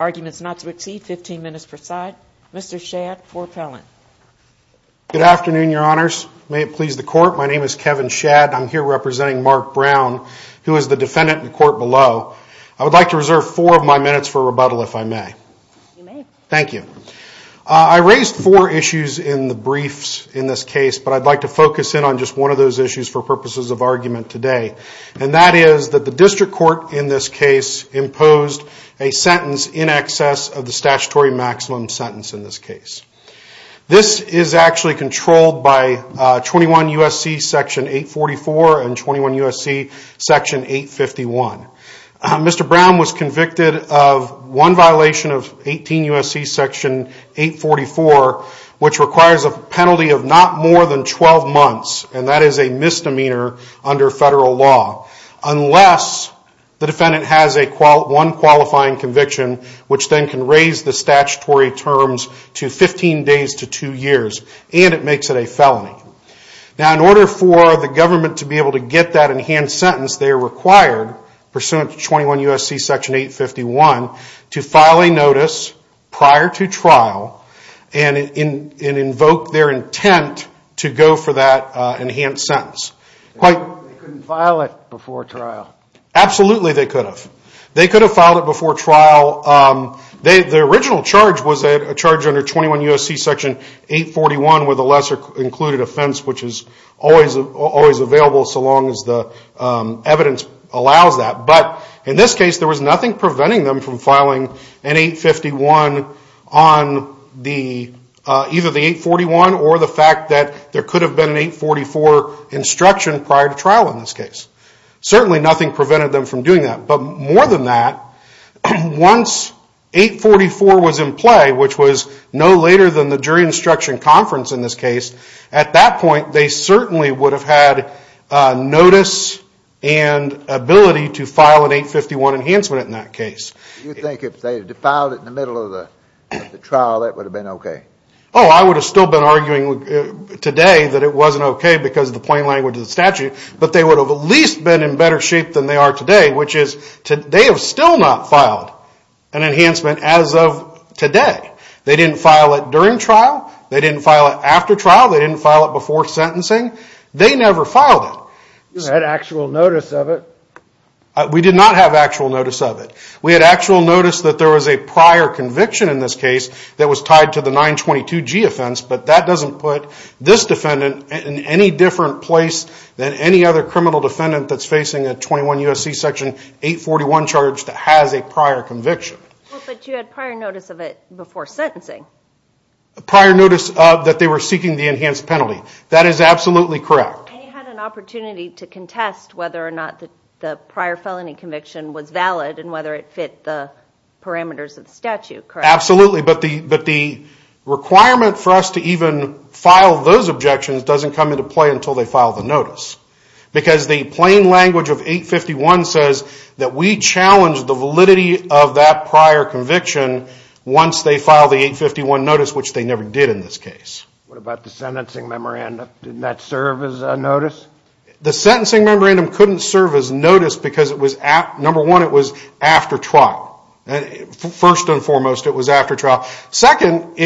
Arguments not to exceed 15 minutes per side. Mr. Shadd, for appellant. Good afternoon, your honors. May it please the court. My name is Kevin Shadd. I'm here representing Mark Brown, who is the defendant in court below. I would like to reserve four of my minutes for rebuttal, if I may. You may. Thank you. I raised four issues in the briefs in this case, but I'd like to focus in on just one of those issues for purposes of this hearing. And that is that the district court in this case imposed a sentence in excess of the statutory maximum sentence in this case. This is actually controlled by 21 U.S.C. section 844 and 21 U.S.C. section 851. Mr. Brown was convicted of one violation of 18 U.S.C. section 844, which requires a penalty of not more than 12 months. And that is a misdemeanor under federal law, unless the defendant has one qualifying conviction, which then can raise the statutory terms to 15 days to two years, and it makes it a felony. Now, in order for the government to be able to get that enhanced sentence, they are required, pursuant to 21 U.S.C. section 851, to file a notice prior to trial and invoke their intent to go for that enhanced sentence. They couldn't file it before trial? Absolutely they could have. They could have filed it before trial. The original charge was a charge under 21 U.S.C. section 841 with a lesser included offense, which is always available so long as the evidence allows that. But in this case, there was nothing preventing them from filing an 851 on either the 841 or the fact that there could have been an 844 instruction prior to trial in this case. Certainly nothing prevented them from doing that. But more than that, once 844 was in play, which was no later than the jury instruction conference in this case, at that point, they certainly would have had notice and ability to file an 851 enhancement in that case. You think if they had filed it in the middle of the trial, that would have been okay? Oh, I would have still been arguing today that it wasn't okay because of the plain language of the statute, but they would have at least been in better shape than they are today, which is they have still not filed an enhancement as of today. They didn't file it during trial, they didn't file it after trial, they didn't file it before sentencing. They never filed it. You had actual notice of it? We did not have actual notice of it. We had actual notice that there was a prior conviction in this case that was tied to the 922G offense, but that doesn't put this defendant in any different place than any other criminal defendant that's facing a 21 U.S.C. section 841 charge that has a prior conviction. Well, but you had prior notice of it before sentencing. Prior notice that they were seeking the enhanced penalty. That is absolutely correct. And you had an opportunity to contest whether or not the prior felony conviction was valid and whether it fit the parameters of the statute, correct? Absolutely, but the requirement for us to even file those objections doesn't come into play until they file the notice because the plain language of 851 says that we challenge the validity of that prior conviction once they file the 851 notice, which they never did in this case. What about the sentencing memorandum? Didn't that serve as a notice? The sentencing memorandum couldn't serve as notice because, number one, it was after trial. First and foremost, it was after trial. Second,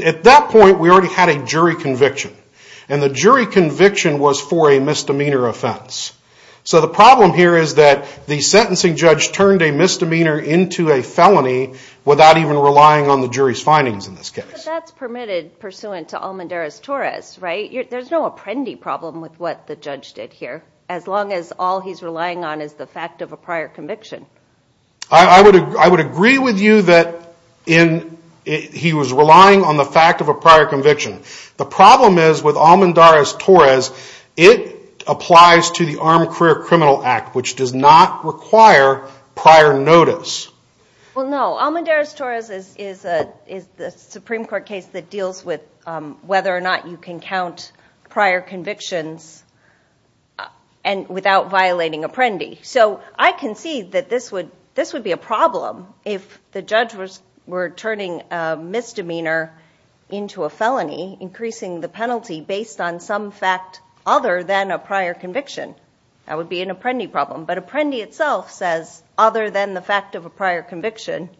at that point, we already had a jury conviction. And the jury conviction was for a misdemeanor offense. So the problem here is that the sentencing judge turned a misdemeanor into a felony without even relying on the jury's findings in this case. But that's permitted pursuant to Almendarez-Torres, right? There's no apprendi problem with what the judge did here as long as all he's relying on is the fact of a prior conviction. I would agree with you that he was relying on the fact of a prior conviction. The problem is with Almendarez-Torres, it applies to the Armed Career Criminal Act, which does not require prior notice. Well, no. Almendarez-Torres is a Supreme Court case that deals with whether or not you can count prior convictions without violating apprendi. So I concede that this would be a problem if the judge were turning a misdemeanor into a felony, increasing the penalty based on some fact other than a prior conviction. That would be an apprendi problem. But apprendi itself says other than the fact of a prior conviction,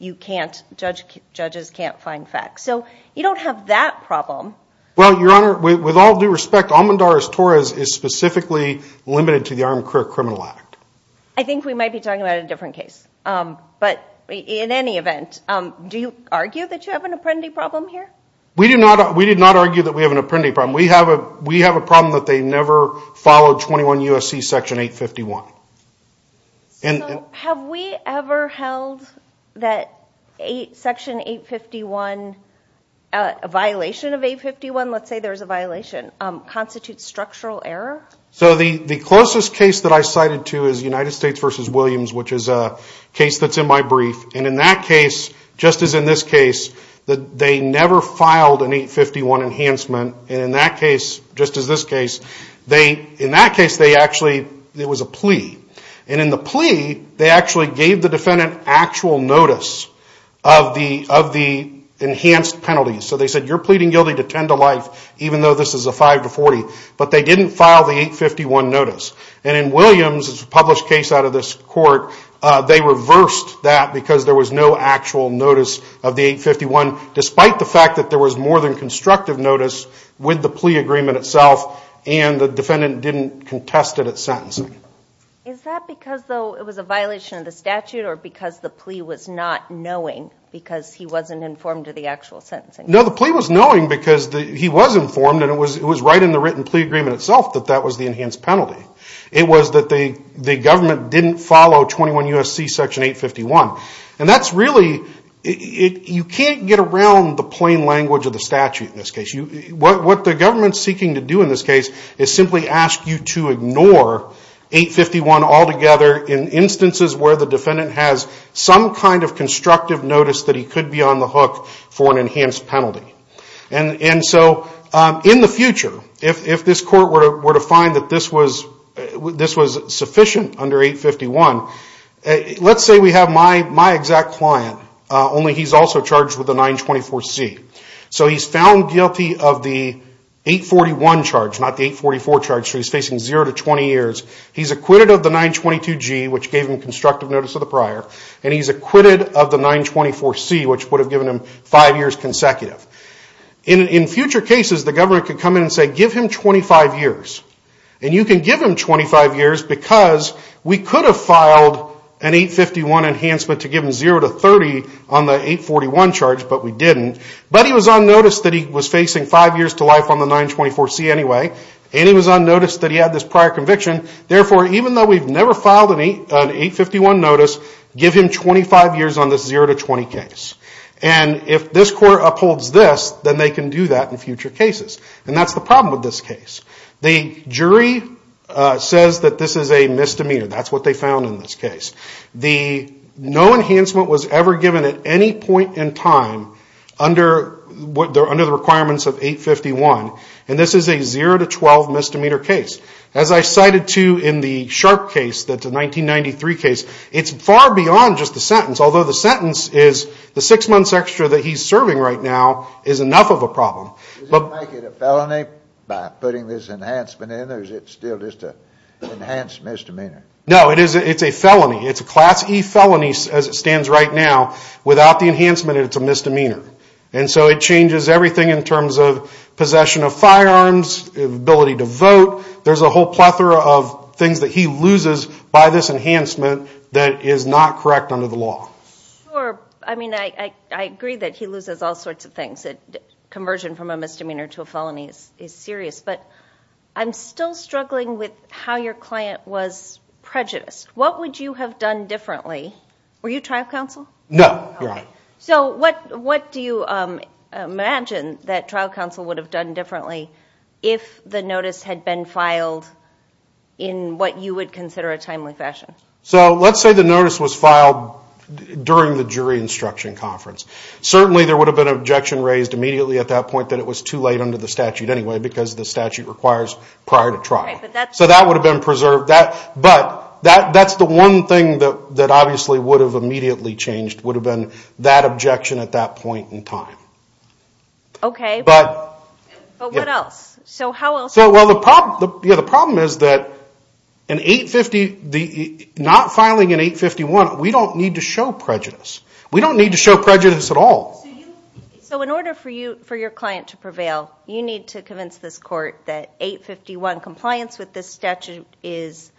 judges can't find facts. So you don't have that problem. Well, Your Honor, with all due respect, Almendarez-Torres is specifically limited to the Armed Career Criminal Act. I think we might be talking about a different case. But in any event, do you argue that you have an apprendi problem here? We did not argue that we have an apprendi problem. We have a problem that they never followed 21 U.S.C. Section 851. So have we ever held that Section 851, a violation of 851, let's say there's a violation, constitutes structural error? So the closest case that I cited to is United States v. Williams, which is a case that's in my brief. And in that case, just as in this case, they never filed an 851 enhancement. And in that case, just as this case, in that case, there was a plea. And in the plea, they actually gave the defendant actual notice of the enhanced penalty. So they said, you're pleading guilty to 10 to life, even though this is a 5 to 40. But they didn't file the 851 notice. And in Williams' published case out of this court, they reversed that because there was no actual notice of the 851, despite the fact that there was more than constructive notice with the plea agreement itself, and the defendant didn't contest it at sentencing. Is that because, though, it was a violation of the statute, or because the plea was not knowing because he wasn't informed of the actual sentencing? No, the plea was knowing because he was informed, and it was right in the written plea agreement itself that that was the enhanced penalty. It was that the government didn't follow 21 U.S.C. Section 851. And that's really, you can't get around the plain language of the statute in this case. What the government's seeking to do in this case is simply ask you to ignore 851 altogether in instances where the defendant has some kind of constructive notice that he could be on the hook for an enhanced penalty. And so in the future, if this court were to find that this was sufficient under 851, let's say we have my exact client, only he's also charged with the 924C. So he's found guilty of the 841 charge, not the 844 charge, so he's facing zero to 20 years. He's acquitted of the 922G, which gave him constructive notice of the prior, and he's acquitted of the 924C, which would have given him five years consecutive. In future cases, the government could come in and say, give him 25 years. And you can give him 25 years because we could have filed an 851 enhancement to give him zero to 30 on the 841 charge, but we didn't. But he was on notice that he was facing five years to life on the 924C anyway, and he was on notice that he had this prior conviction. Therefore, even though we've never filed an 851 notice, give him 25 years on this zero to 20 case. And if this court upholds this, then they can do that in future cases. And that's the problem with this case. The jury says that this is a misdemeanor. That's what they found in this case. No enhancement was ever given at any point in time under the requirements of 851, and this is a zero to 12 misdemeanor case. As I cited to in the Sharp case, that's a 1993 case, it's far beyond just the sentence, although the sentence is the six months extra that he's serving right now is enough of a problem. Does it make it a felony by putting this enhancement in, or is it still just an enhanced misdemeanor? No, it's a felony. It's a Class E felony as it stands right now. Without the enhancement, it's a misdemeanor. And so it changes everything in terms of possession of firearms, ability to vote. There's a whole plethora of things that he loses by this enhancement that is not correct under the law. Sure. I mean, I agree that he loses all sorts of things. Conversion from a misdemeanor to a felony is serious. But I'm still struggling with how your client was prejudiced. What would you have done differently? Were you trial counsel? No. So what do you imagine that trial counsel would have done differently if the notice had been filed in what you would consider a timely fashion? So let's say the notice was filed during the jury instruction conference. Certainly there would have been an objection raised immediately at that point that it was too late under the statute anyway, because the statute requires prior to trial. So that would have been preserved. But that's the one thing that obviously would have immediately changed, would have been that objection at that point in time. Okay. But what else? Well, the problem is that in 850, not filing in 851, we don't need to show prejudice. We don't need to show prejudice at all. So in order for your client to prevail, you need to convince this court that 851 compliance with this statute is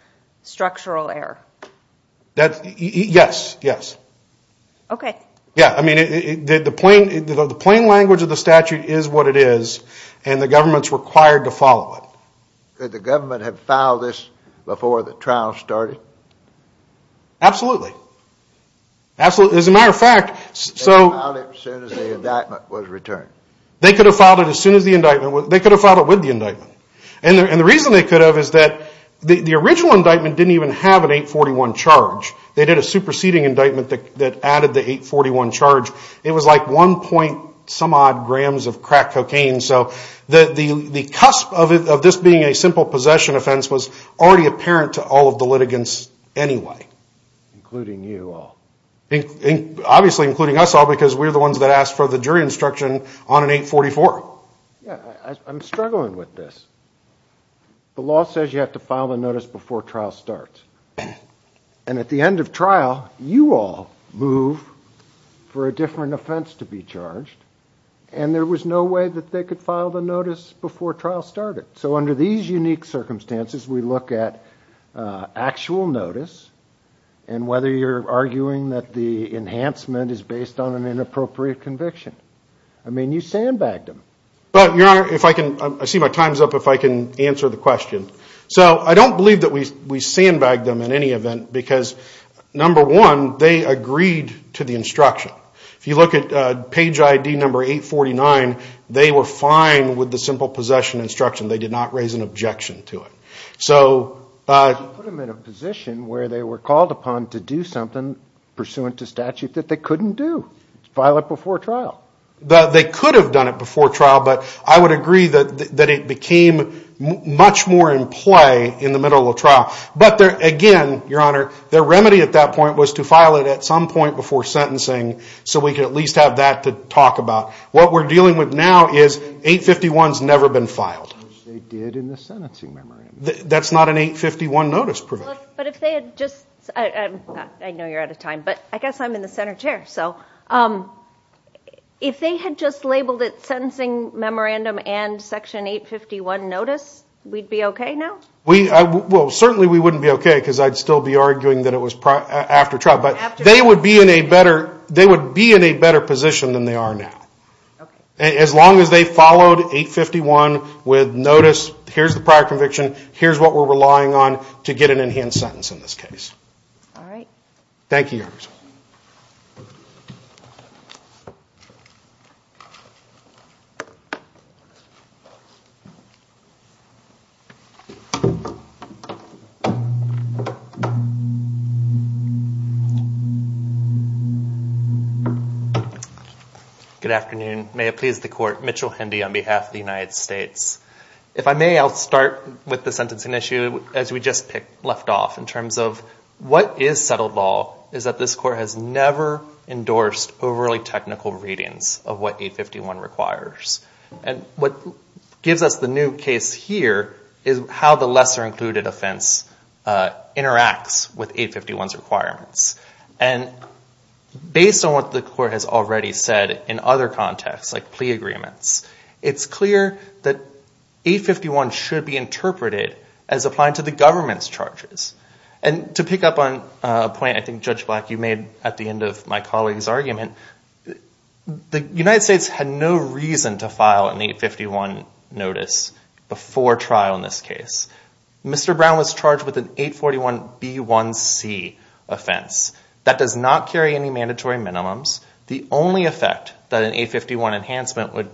structural error. Yes, yes. Okay. Yeah, I mean, the plain language of the statute is what it is, and the government's required to follow it. Could the government have filed this before the trial started? Absolutely. As a matter of fact, so... They could have filed it as soon as the indictment was returned. They could have filed it as soon as the indictment was... they could have filed it with the indictment. And the reason they could have is that the original indictment didn't even have an 841 charge. They did a superseding indictment that added the 841 charge. It was like 1 point some odd grams of crack cocaine. So the cusp of this being a simple possession offense was already apparent to all of the litigants anyway. Including you all. Obviously including us all because we're the ones that asked for the jury instruction on an 844. Yeah, I'm struggling with this. The law says you have to file the notice before trial starts. And at the end of trial, you all move for a different offense to be charged. And there was no way that they could file the notice before trial started. So under these unique circumstances, we look at actual notice and whether you're arguing that the enhancement is based on an inappropriate conviction. I mean, you sandbagged them. Your Honor, if I can... I see my time's up. If I can answer the question. So I don't believe that we sandbagged them in any event because, number one, they agreed to the instruction. If you look at page ID number 849, they were fine with the simple possession instruction. They did not raise an objection to it. So... You put them in a position where they were called upon to do something pursuant to statute that they couldn't do. File it before trial. They could have done it before trial, but I would agree that it became much more in play in the middle of trial. But again, Your Honor, their remedy at that point was to file it at some point before sentencing so we could at least have that to talk about. What we're dealing with now is 851's never been filed. Which they did in the sentencing memorandum. That's not an 851 notice provision. I know you're out of time, but I guess I'm in the center chair. If they had just labeled it sentencing memorandum and section 851 notice, we'd be okay now? Certainly we wouldn't be okay because I'd still be arguing that it was after trial. They would be in a better position than they are now. As long as they followed 851 with notice, here's the prior conviction, here's what we're relying on to get an enhanced sentence in this case. All right. Good afternoon. May it please the court. Mitchell Hendy on behalf of the United States. If I may, I'll start with the sentencing issue as we just left off. In terms of what is settled law is that this court has never endorsed overly technical readings of what 851 requires. And what gives us the new case here is how the lesser included offense interacts with 851's requirements. And based on what the court has already said in other contexts, like plea agreements, it's clear that 851 should be interpreted as applying to the government's charges. And to pick up on a point I think Judge Black, you made at the end of my colleague's argument, the United States had no reason to file an 851 notice before trial in this case. Mr. Brown was charged with an 841B1C offense. That does not carry any mandatory minimums. The only effect that an 851 enhancement would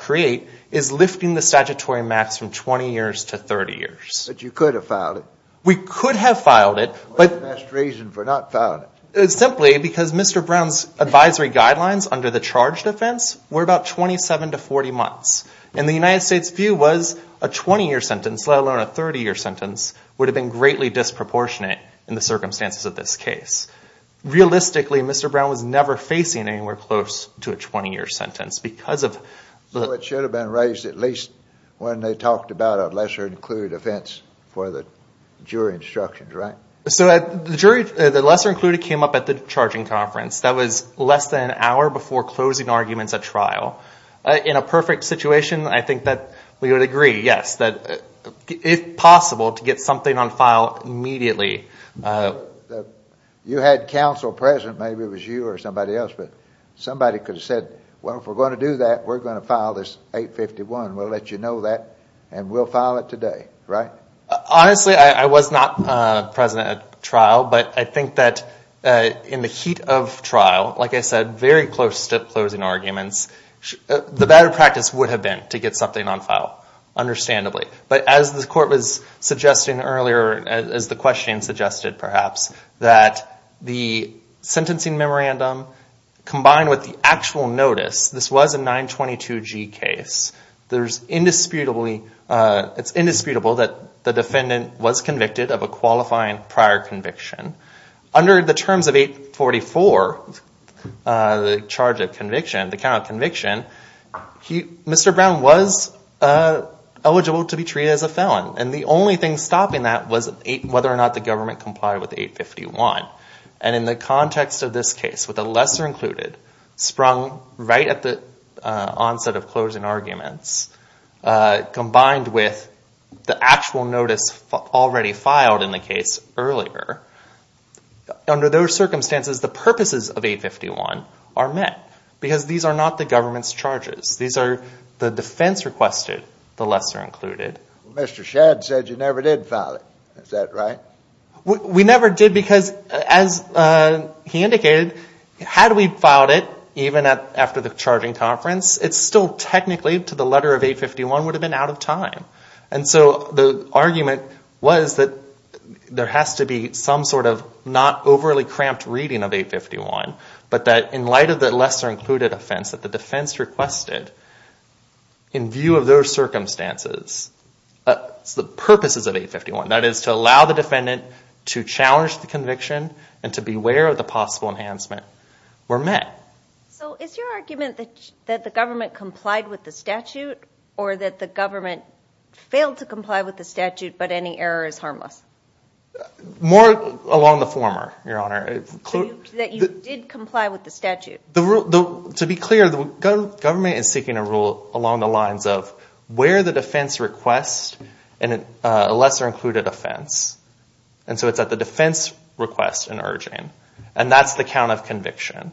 create is lifting the statutory max from 20 years to 30 years. But you could have filed it. We could have filed it. What's the best reason for not filing it? Simply because Mr. Brown's advisory guidelines under the charged offense were about 27 to 40 months. And the United States' view was a 20-year sentence, let alone a 30-year sentence, would have been greatly disproportionate in the circumstances of this case. Realistically, Mr. Brown was never facing anywhere close to a 20-year sentence. So it should have been raised at least when they talked about a lesser included offense for the jury instructions, right? So the lesser included came up at the charging conference. In a perfect situation, I think that we would agree, yes, that it's possible to get something on file immediately. You had counsel present. Maybe it was you or somebody else. But somebody could have said, well, if we're going to do that, we're going to file this 851. We'll let you know that, and we'll file it today, right? Honestly, I was not present at trial. But I think that in the heat of trial, like I said, very close to closing arguments, the better practice would have been to get something on file, understandably. But as the court was suggesting earlier, as the question suggested perhaps, that the sentencing memorandum combined with the actual notice, this was a 922G case, it's indisputable that the defendant was convicted of a qualifying prior conviction. Under the terms of 844, the charge of conviction, the count of conviction, Mr. Brown was eligible to be treated as a felon. And the only thing stopping that was whether or not the government complied with 851. And in the context of this case, with the lesser included sprung right at the onset of closing arguments, combined with the actual notice already filed in the case earlier, under those circumstances, the purposes of 851 are met. Because these are not the government's charges. These are the defense requested, the lesser included. Mr. Shadd said you never did file it. Is that right? We never did because, as he indicated, had we filed it, even after the charging conference, it still technically, to the letter of 851, would have been out of time. And so the argument was that there has to be some sort of not overly cramped reading of 851, but that in light of the lesser included offense that the defense requested, in view of those circumstances, the purpose is of 851. That is to allow the defendant to challenge the conviction and to beware of the possible enhancement were met. So is your argument that the government complied with the statute or that the government failed to comply with the statute but any error is harmless? More along the former, Your Honor. That you did comply with the statute? To be clear, the government is seeking a rule along the lines of where the defense requests and a lesser included offense. And so it's at the defense request and urging. And that's the count of conviction.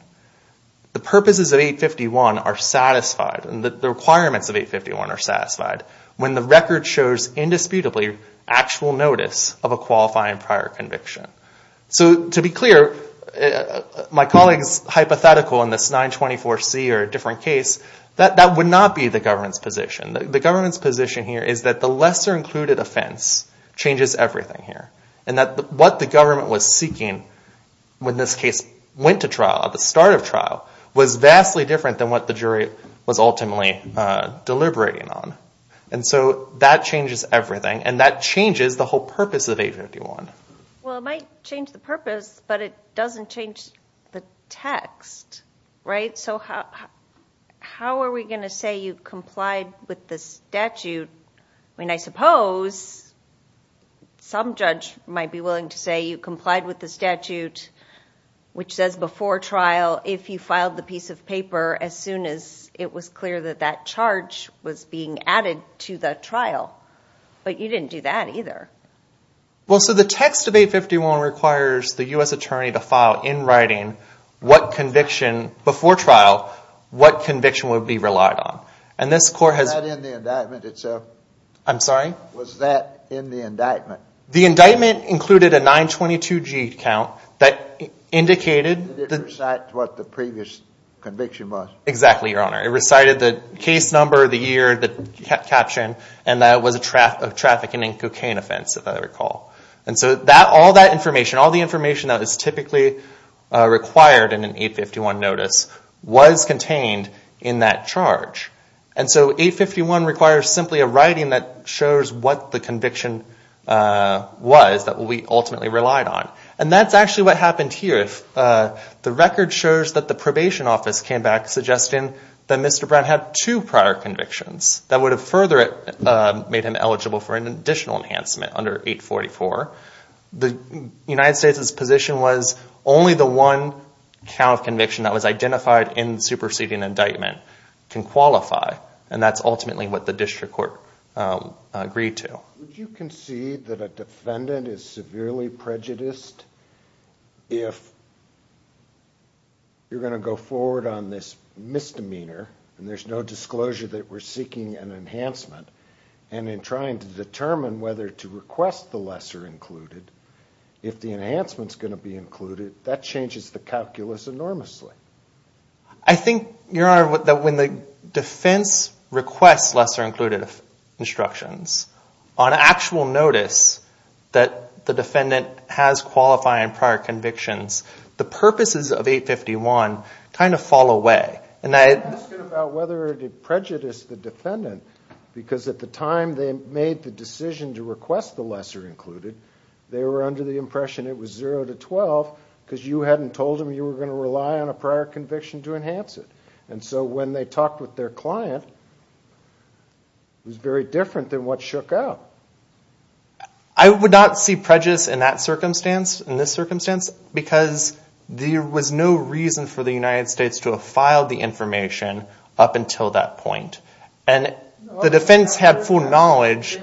The purposes of 851 are satisfied and the requirements of 851 are satisfied when the record shows indisputably actual notice of a qualifying prior conviction. So to be clear, my colleagues' hypothetical in this 924C or a different case, that would not be the government's position. The government's position here is that the lesser included offense changes everything here and that what the government was seeking when this case went to trial at the start of trial was vastly different than what the jury was ultimately deliberating on. And so that changes everything, and that changes the whole purpose of 851. Well, it might change the purpose, but it doesn't change the text, right? So how are we going to say you complied with the statute? I mean, I suppose some judge might be willing to say you complied with the statute which says before trial if you filed the piece of paper as soon as it was clear that that charge was being added to the trial. But you didn't do that either. Well, so the text of 851 requires the U.S. attorney to file in writing before trial what conviction would be relied on. Was that in the indictment itself? I'm sorry? Was that in the indictment? The indictment included a 922G count that indicated It didn't recite what the previous conviction was. Exactly, Your Honor. It recited the case number, the year, the caption, and that it was a trafficking and cocaine offense, if I recall. And so all that information, all the information that is typically required in an 851 notice was contained in that charge. And so 851 requires simply a writing that shows what the conviction was that we ultimately relied on. And that's actually what happened here. The record shows that the probation office came back suggesting that Mr. Brown had two prior convictions that would have further made him eligible for an additional enhancement under 844. The United States' position was only the one count of conviction that was identified in the superseding indictment can qualify. And that's ultimately what the district court agreed to. Would you concede that a defendant is severely prejudiced if you're going to go forward on this misdemeanor and there's no disclosure that we're seeking an enhancement and in trying to determine whether to request the lesser included, if the enhancement is going to be included, that changes the calculus enormously? I think, Your Honor, that when the defense requests lesser included instructions, on actual notice that the defendant has qualifying prior convictions, the purposes of 851 kind of fall away. I'm interested about whether it prejudiced the defendant because at the time they made the decision to request the lesser included, they were under the impression it was 0 to 12 because you hadn't told them you were going to rely on a prior conviction to enhance it. And so when they talked with their client, it was very different than what shook out. I would not see prejudice in that circumstance, in this circumstance, because there was no reason for the United States to have filed the information up until that point. And the defense had full knowledge.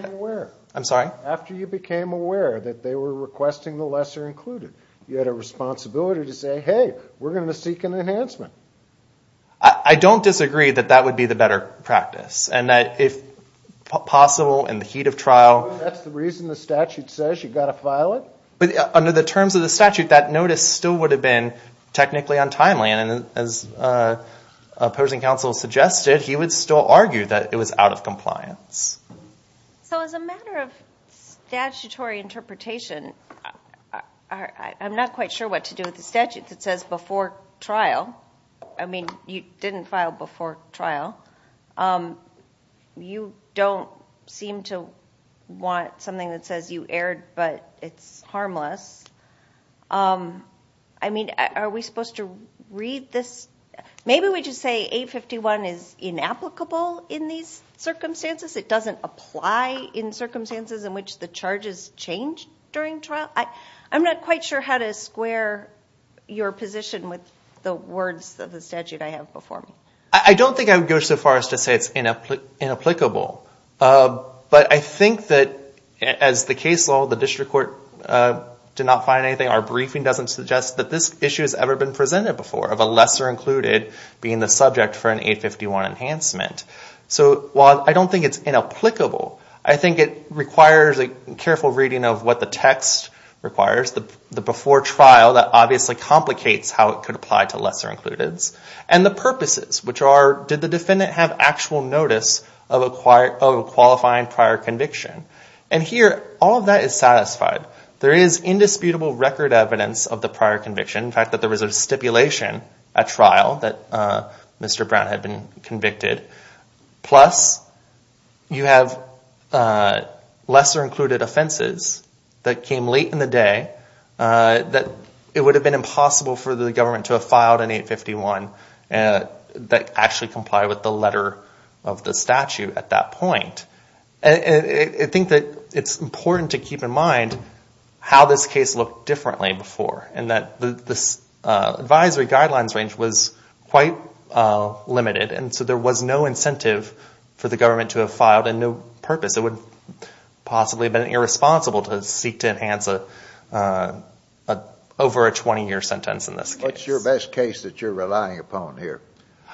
After you became aware that they were requesting the lesser included, you had a responsibility to say, hey, we're going to seek an enhancement. I don't disagree that that would be the better practice. And if possible, in the heat of trial. That's the reason the statute says you've got to file it? Under the terms of the statute, that notice still would have been technically untimely. And as opposing counsel suggested, he would still argue that it was out of compliance. So as a matter of statutory interpretation, I'm not quite sure what to do with the statute that says before trial. I mean, you didn't file before trial. You don't seem to want something that says you erred, but it's harmless. I mean, are we supposed to read this? Maybe we just say 851 is inapplicable in these circumstances. It doesn't apply in circumstances in which the charges change during trial. I'm not quite sure how to square your position with the words of the statute I have before me. I don't think I would go so far as to say it's inapplicable. But I think that as the case law, the district court did not find anything, our briefing doesn't suggest that this issue has ever been presented before, of a lesser included being the subject for an 851 enhancement. So while I don't think it's inapplicable, I think it requires a careful reading of what the text requires. The before trial, that obviously complicates how it could apply to lesser included. And the purposes, which are, did the defendant have actual notice of a qualifying prior conviction? And here, all of that is satisfied. There is indisputable record evidence of the prior conviction. In fact, there was a stipulation at trial that Mr. Brown had been convicted. Plus, you have lesser included offenses that came late in the day, that it would have been impossible for the government to have filed an 851 that actually complied with the letter of the statute at that point. I think that it's important to keep in mind how this case looked differently before. And that this advisory guidelines range was quite limited. And so there was no incentive for the government to have filed, and no purpose. It would possibly have been irresponsible to seek to enhance over a 20-year sentence in this case. What's your best case that you're relying upon here?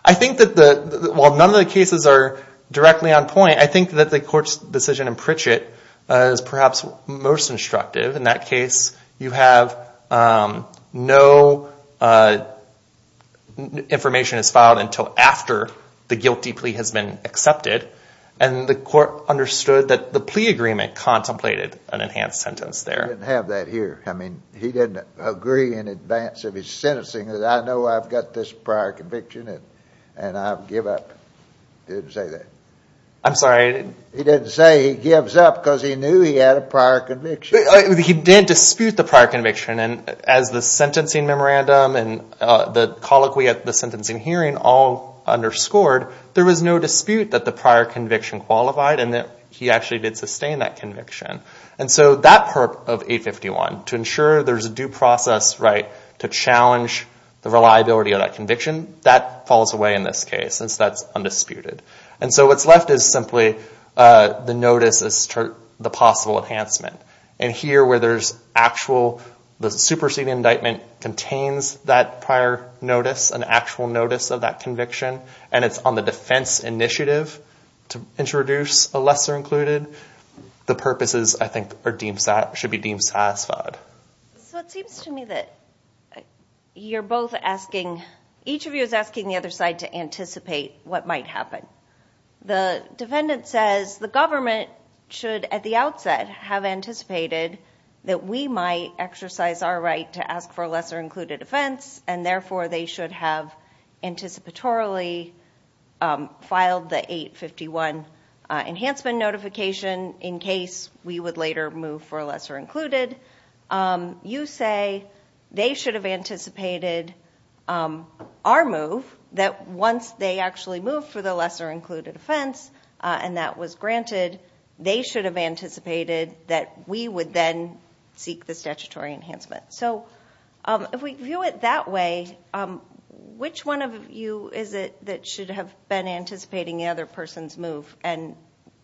I think that, while none of the cases are directly on point, I think that the court's decision in Pritchett is perhaps most instructive. In that case, you have no information is filed until after the guilty plea has been accepted. And the court understood that the plea agreement contemplated an enhanced sentence there. He didn't have that here. I mean, he didn't agree in advance of his sentencing that, I know I've got this prior conviction and I'll give up. He didn't say that. I'm sorry? He didn't say he gives up because he knew he had a prior conviction. He didn't dispute the prior conviction. And as the sentencing memorandum and the colloquy at the sentencing hearing all underscored, there was no dispute that the prior conviction qualified and that he actually did sustain that conviction. And so that part of 851, to ensure there's a due process right to challenge the reliability of that conviction, that falls away in this case since that's undisputed. And so what's left is simply the notice as to the possible enhancement. And here where there's actual, the superseding indictment contains that prior notice, an actual notice of that conviction, and it's on the defense initiative to introduce a lesser included, the purposes, I think, should be deemed satisfied. So it seems to me that you're both asking, each of you is asking the other side to anticipate what might happen. The defendant says the government should, at the outset, have anticipated that we might exercise our right to ask for a lesser included offense, and therefore they should have anticipatorily filed the 851 enhancement notification, in case we would later move for a lesser included. You say they should have anticipated our move, that once they actually move for the lesser included offense, and that was granted, they should have anticipated that we would then seek the statutory enhancement. So if we view it that way, which one of you is it that should have been anticipating the other person's move, and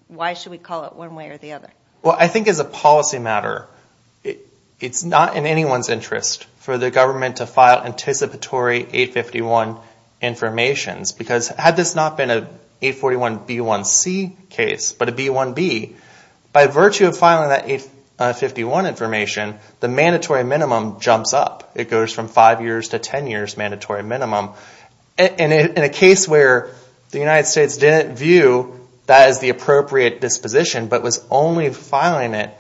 why should we call it one way or the other? Well, I think as a policy matter, it's not in anyone's interest for the government to file anticipatory 851 information, because had this not been an 841B1C case, but a B1B, by virtue of filing that 851 information, the mandatory minimum jumps up. It goes from five years to ten years mandatory minimum. In a case where the United States didn't view that as the appropriate disposition, but was only filing it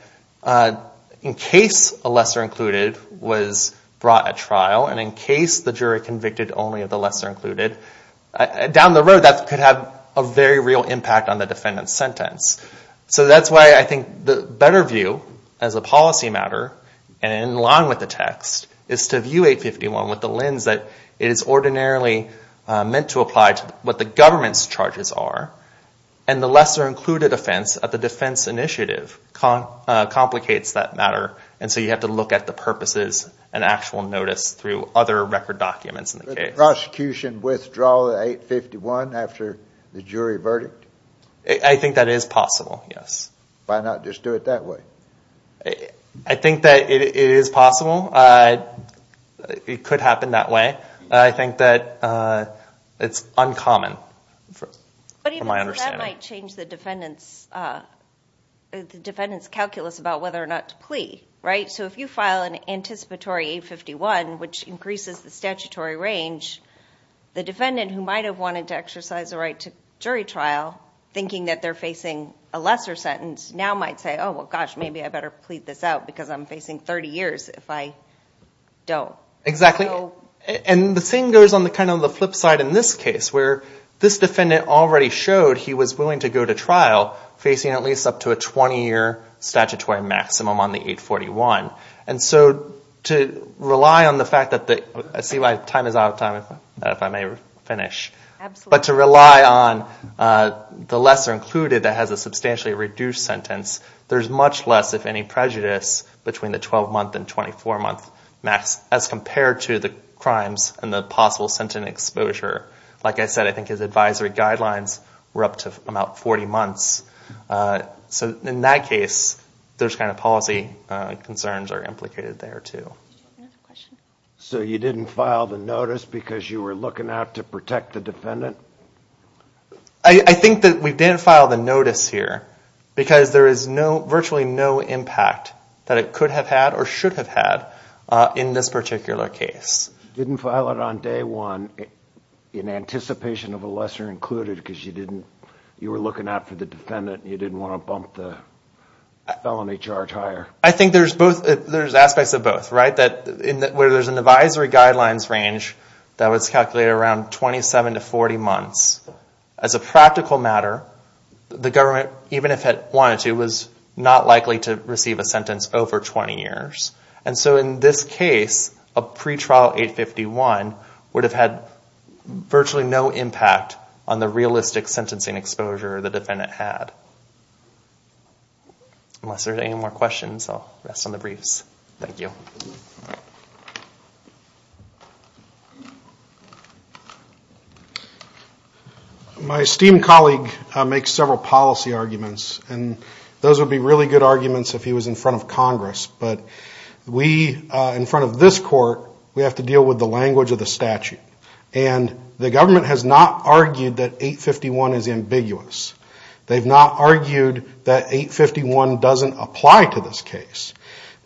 in case a lesser included was brought at trial, and in case the jury convicted only of the lesser included, down the road that could have a very real impact on the defendant's sentence. So that's why I think the better view as a policy matter, and in line with the text, is to view 851 with the lens that it is ordinarily meant to apply to what the government's charges are, and the lesser included offense at the defense initiative complicates that matter, and so you have to look at the purposes and actual notice through other record documents in the case. Can the prosecution withdraw the 851 after the jury verdict? I think that is possible, yes. Why not just do it that way? I think that it is possible. It could happen that way. I think that it's uncommon from my understanding. But even that might change the defendant's calculus about whether or not to plea, right? So if you file an anticipatory 851, which increases the statutory range, the defendant who might have wanted to exercise the right to jury trial, thinking that they're facing a lesser sentence, now might say, oh, well, gosh, maybe I better plead this out because I'm facing 30 years if I don't. Exactly, and the same goes on kind of the flip side in this case, where this defendant already showed he was willing to go to trial facing at least up to a 20-year statutory maximum on the 841. And so to rely on the fact that the lesser included that has a substantially reduced sentence, there's much less, if any, prejudice between the 12-month and 24-month max as compared to the crimes and the possible sentencing exposure. Like I said, I think his advisory guidelines were up to about 40 months. So in that case, those kind of policy concerns are implicated there, too. So you didn't file the notice because you were looking out to protect the defendant? I think that we did file the notice here because there is virtually no impact that it could have had or should have had in this particular case. You didn't file it on day one in anticipation of a lesser included because you were looking out for the defendant and you didn't want to bump the felony charge higher? I think there's aspects of both, right? Where there's an advisory guidelines range that was calculated around 27 to 40 months. As a practical matter, the government, even if it wanted to, was not likely to receive a sentence over 20 years. And so in this case, a pretrial 851 would have had virtually no impact on the realistic sentencing exposure the defendant had. Unless there are any more questions, I'll rest on the briefs. Thank you. My esteemed colleague makes several policy arguments, and those would be really good arguments if he was in front of Congress. But we, in front of this court, we have to deal with the language of the statute. And the government has not argued that 851 is ambiguous. They've not argued that 851 doesn't apply to this case.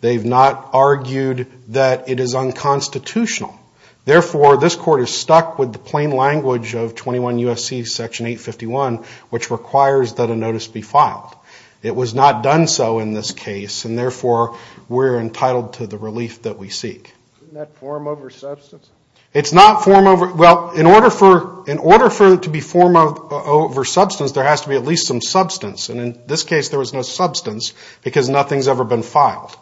They've not argued that it is unconstitutional. Therefore, this court is stuck with the plain language of 21 U.S.C. section 851, which requires that a notice be filed. It was not done so in this case, and therefore we're entitled to the relief that we seek. Isn't that form over substance? In order for it to be form over substance, there has to be at least some substance. And in this case, there was no substance, because nothing's ever been filed.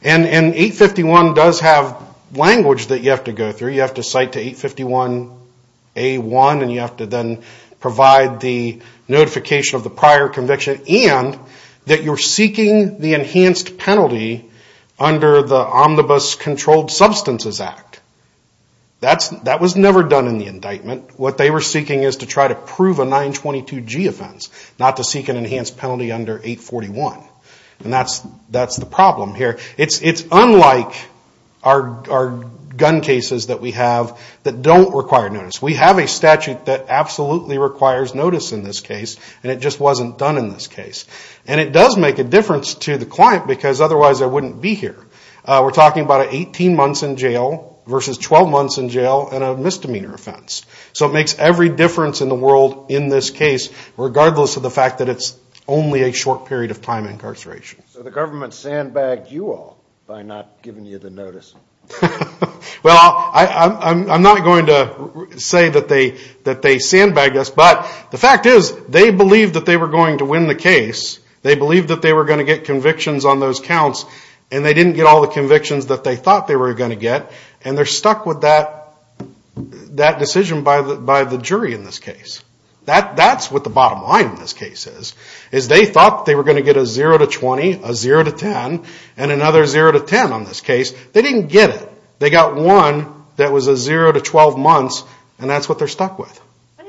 And 851 does have language that you have to go through. You have to cite to 851A1, and you have to then provide the notification of the prior conviction, and that you're seeking the enhanced penalty under the Omnibus Controlled Substances Act. That was never done in the indictment. What they were seeking is to try to prove a 922G offense, not to seek an enhanced penalty under 841. And that's the problem here. It's unlike our gun cases that we have that don't require notice. We have a statute that absolutely requires notice in this case, and it just wasn't done in this case. And it does make a difference to the client, because otherwise I wouldn't be here. We're talking about 18 months in jail versus 12 months in jail and a misdemeanor offense. So it makes every difference in the world in this case, regardless of the fact that it's only a short period of time incarceration. So the government sandbagged you all by not giving you the notice? Well, I'm not going to say that they sandbagged us, but the fact is they believed that they were going to win the case. They believed that they were going to get convictions on those counts, and they didn't get all the convictions that they thought they were going to get, and they're stuck with that decision by the jury in this case. That's what the bottom line in this case is. They thought they were going to get a 0-20, a 0-10, and another 0-10 on this case. They didn't get it. They got one that was a 0-12 months, and that's what they're stuck with. But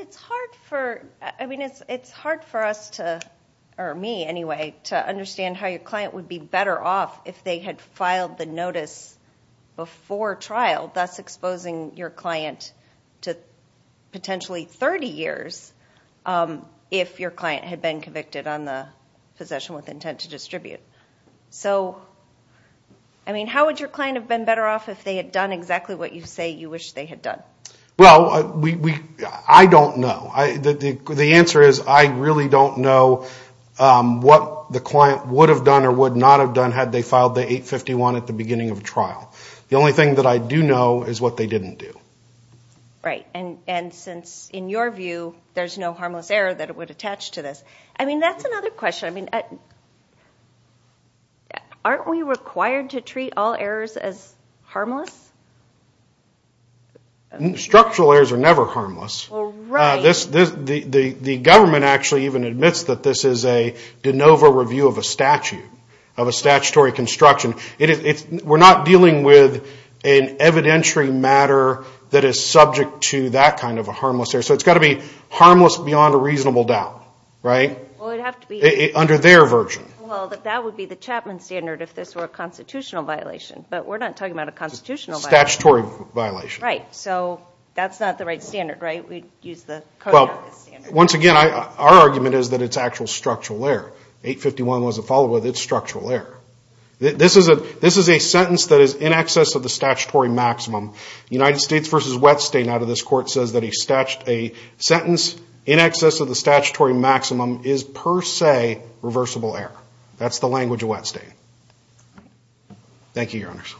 it's hard for me, anyway, to understand how your client would be better off if they had filed the notice before trial, thus exposing your client to potentially 30 years if your client had been convicted on the possession with intent to distribute. So, I mean, how would your client have been better off if they had done exactly what you say you wish they had done? Well, I don't know. The answer is I really don't know what the client would have done or would not have done had they filed the 851 at the beginning of trial. The only thing that I do know is what they didn't do. Right, and since, in your view, there's no harmless error that it would attach to this. I mean, that's another question. Aren't we required to treat all errors as harmless? Structural errors are never harmless. The government actually even admits that this is a de novo review of a statute, of a statutory construction. We're not dealing with an evidentiary matter that is subject to that kind of a harmless error. So it's got to be harmless beyond a reasonable doubt, right? Under their version. Well, that would be the Chapman standard if this were a constitutional violation, but we're not talking about a constitutional violation. Statutory violation. Right, so that's not the right standard, right? Well, once again, our argument is that it's actual structural error. 851 wasn't followed with, it's structural error. This is a sentence that is in excess of the statutory maximum. United States v. Wettstein out of this court says that a sentence in excess of the statutory maximum is per se reversible error. That's the language of Wettstein. Thank you, Your Honors.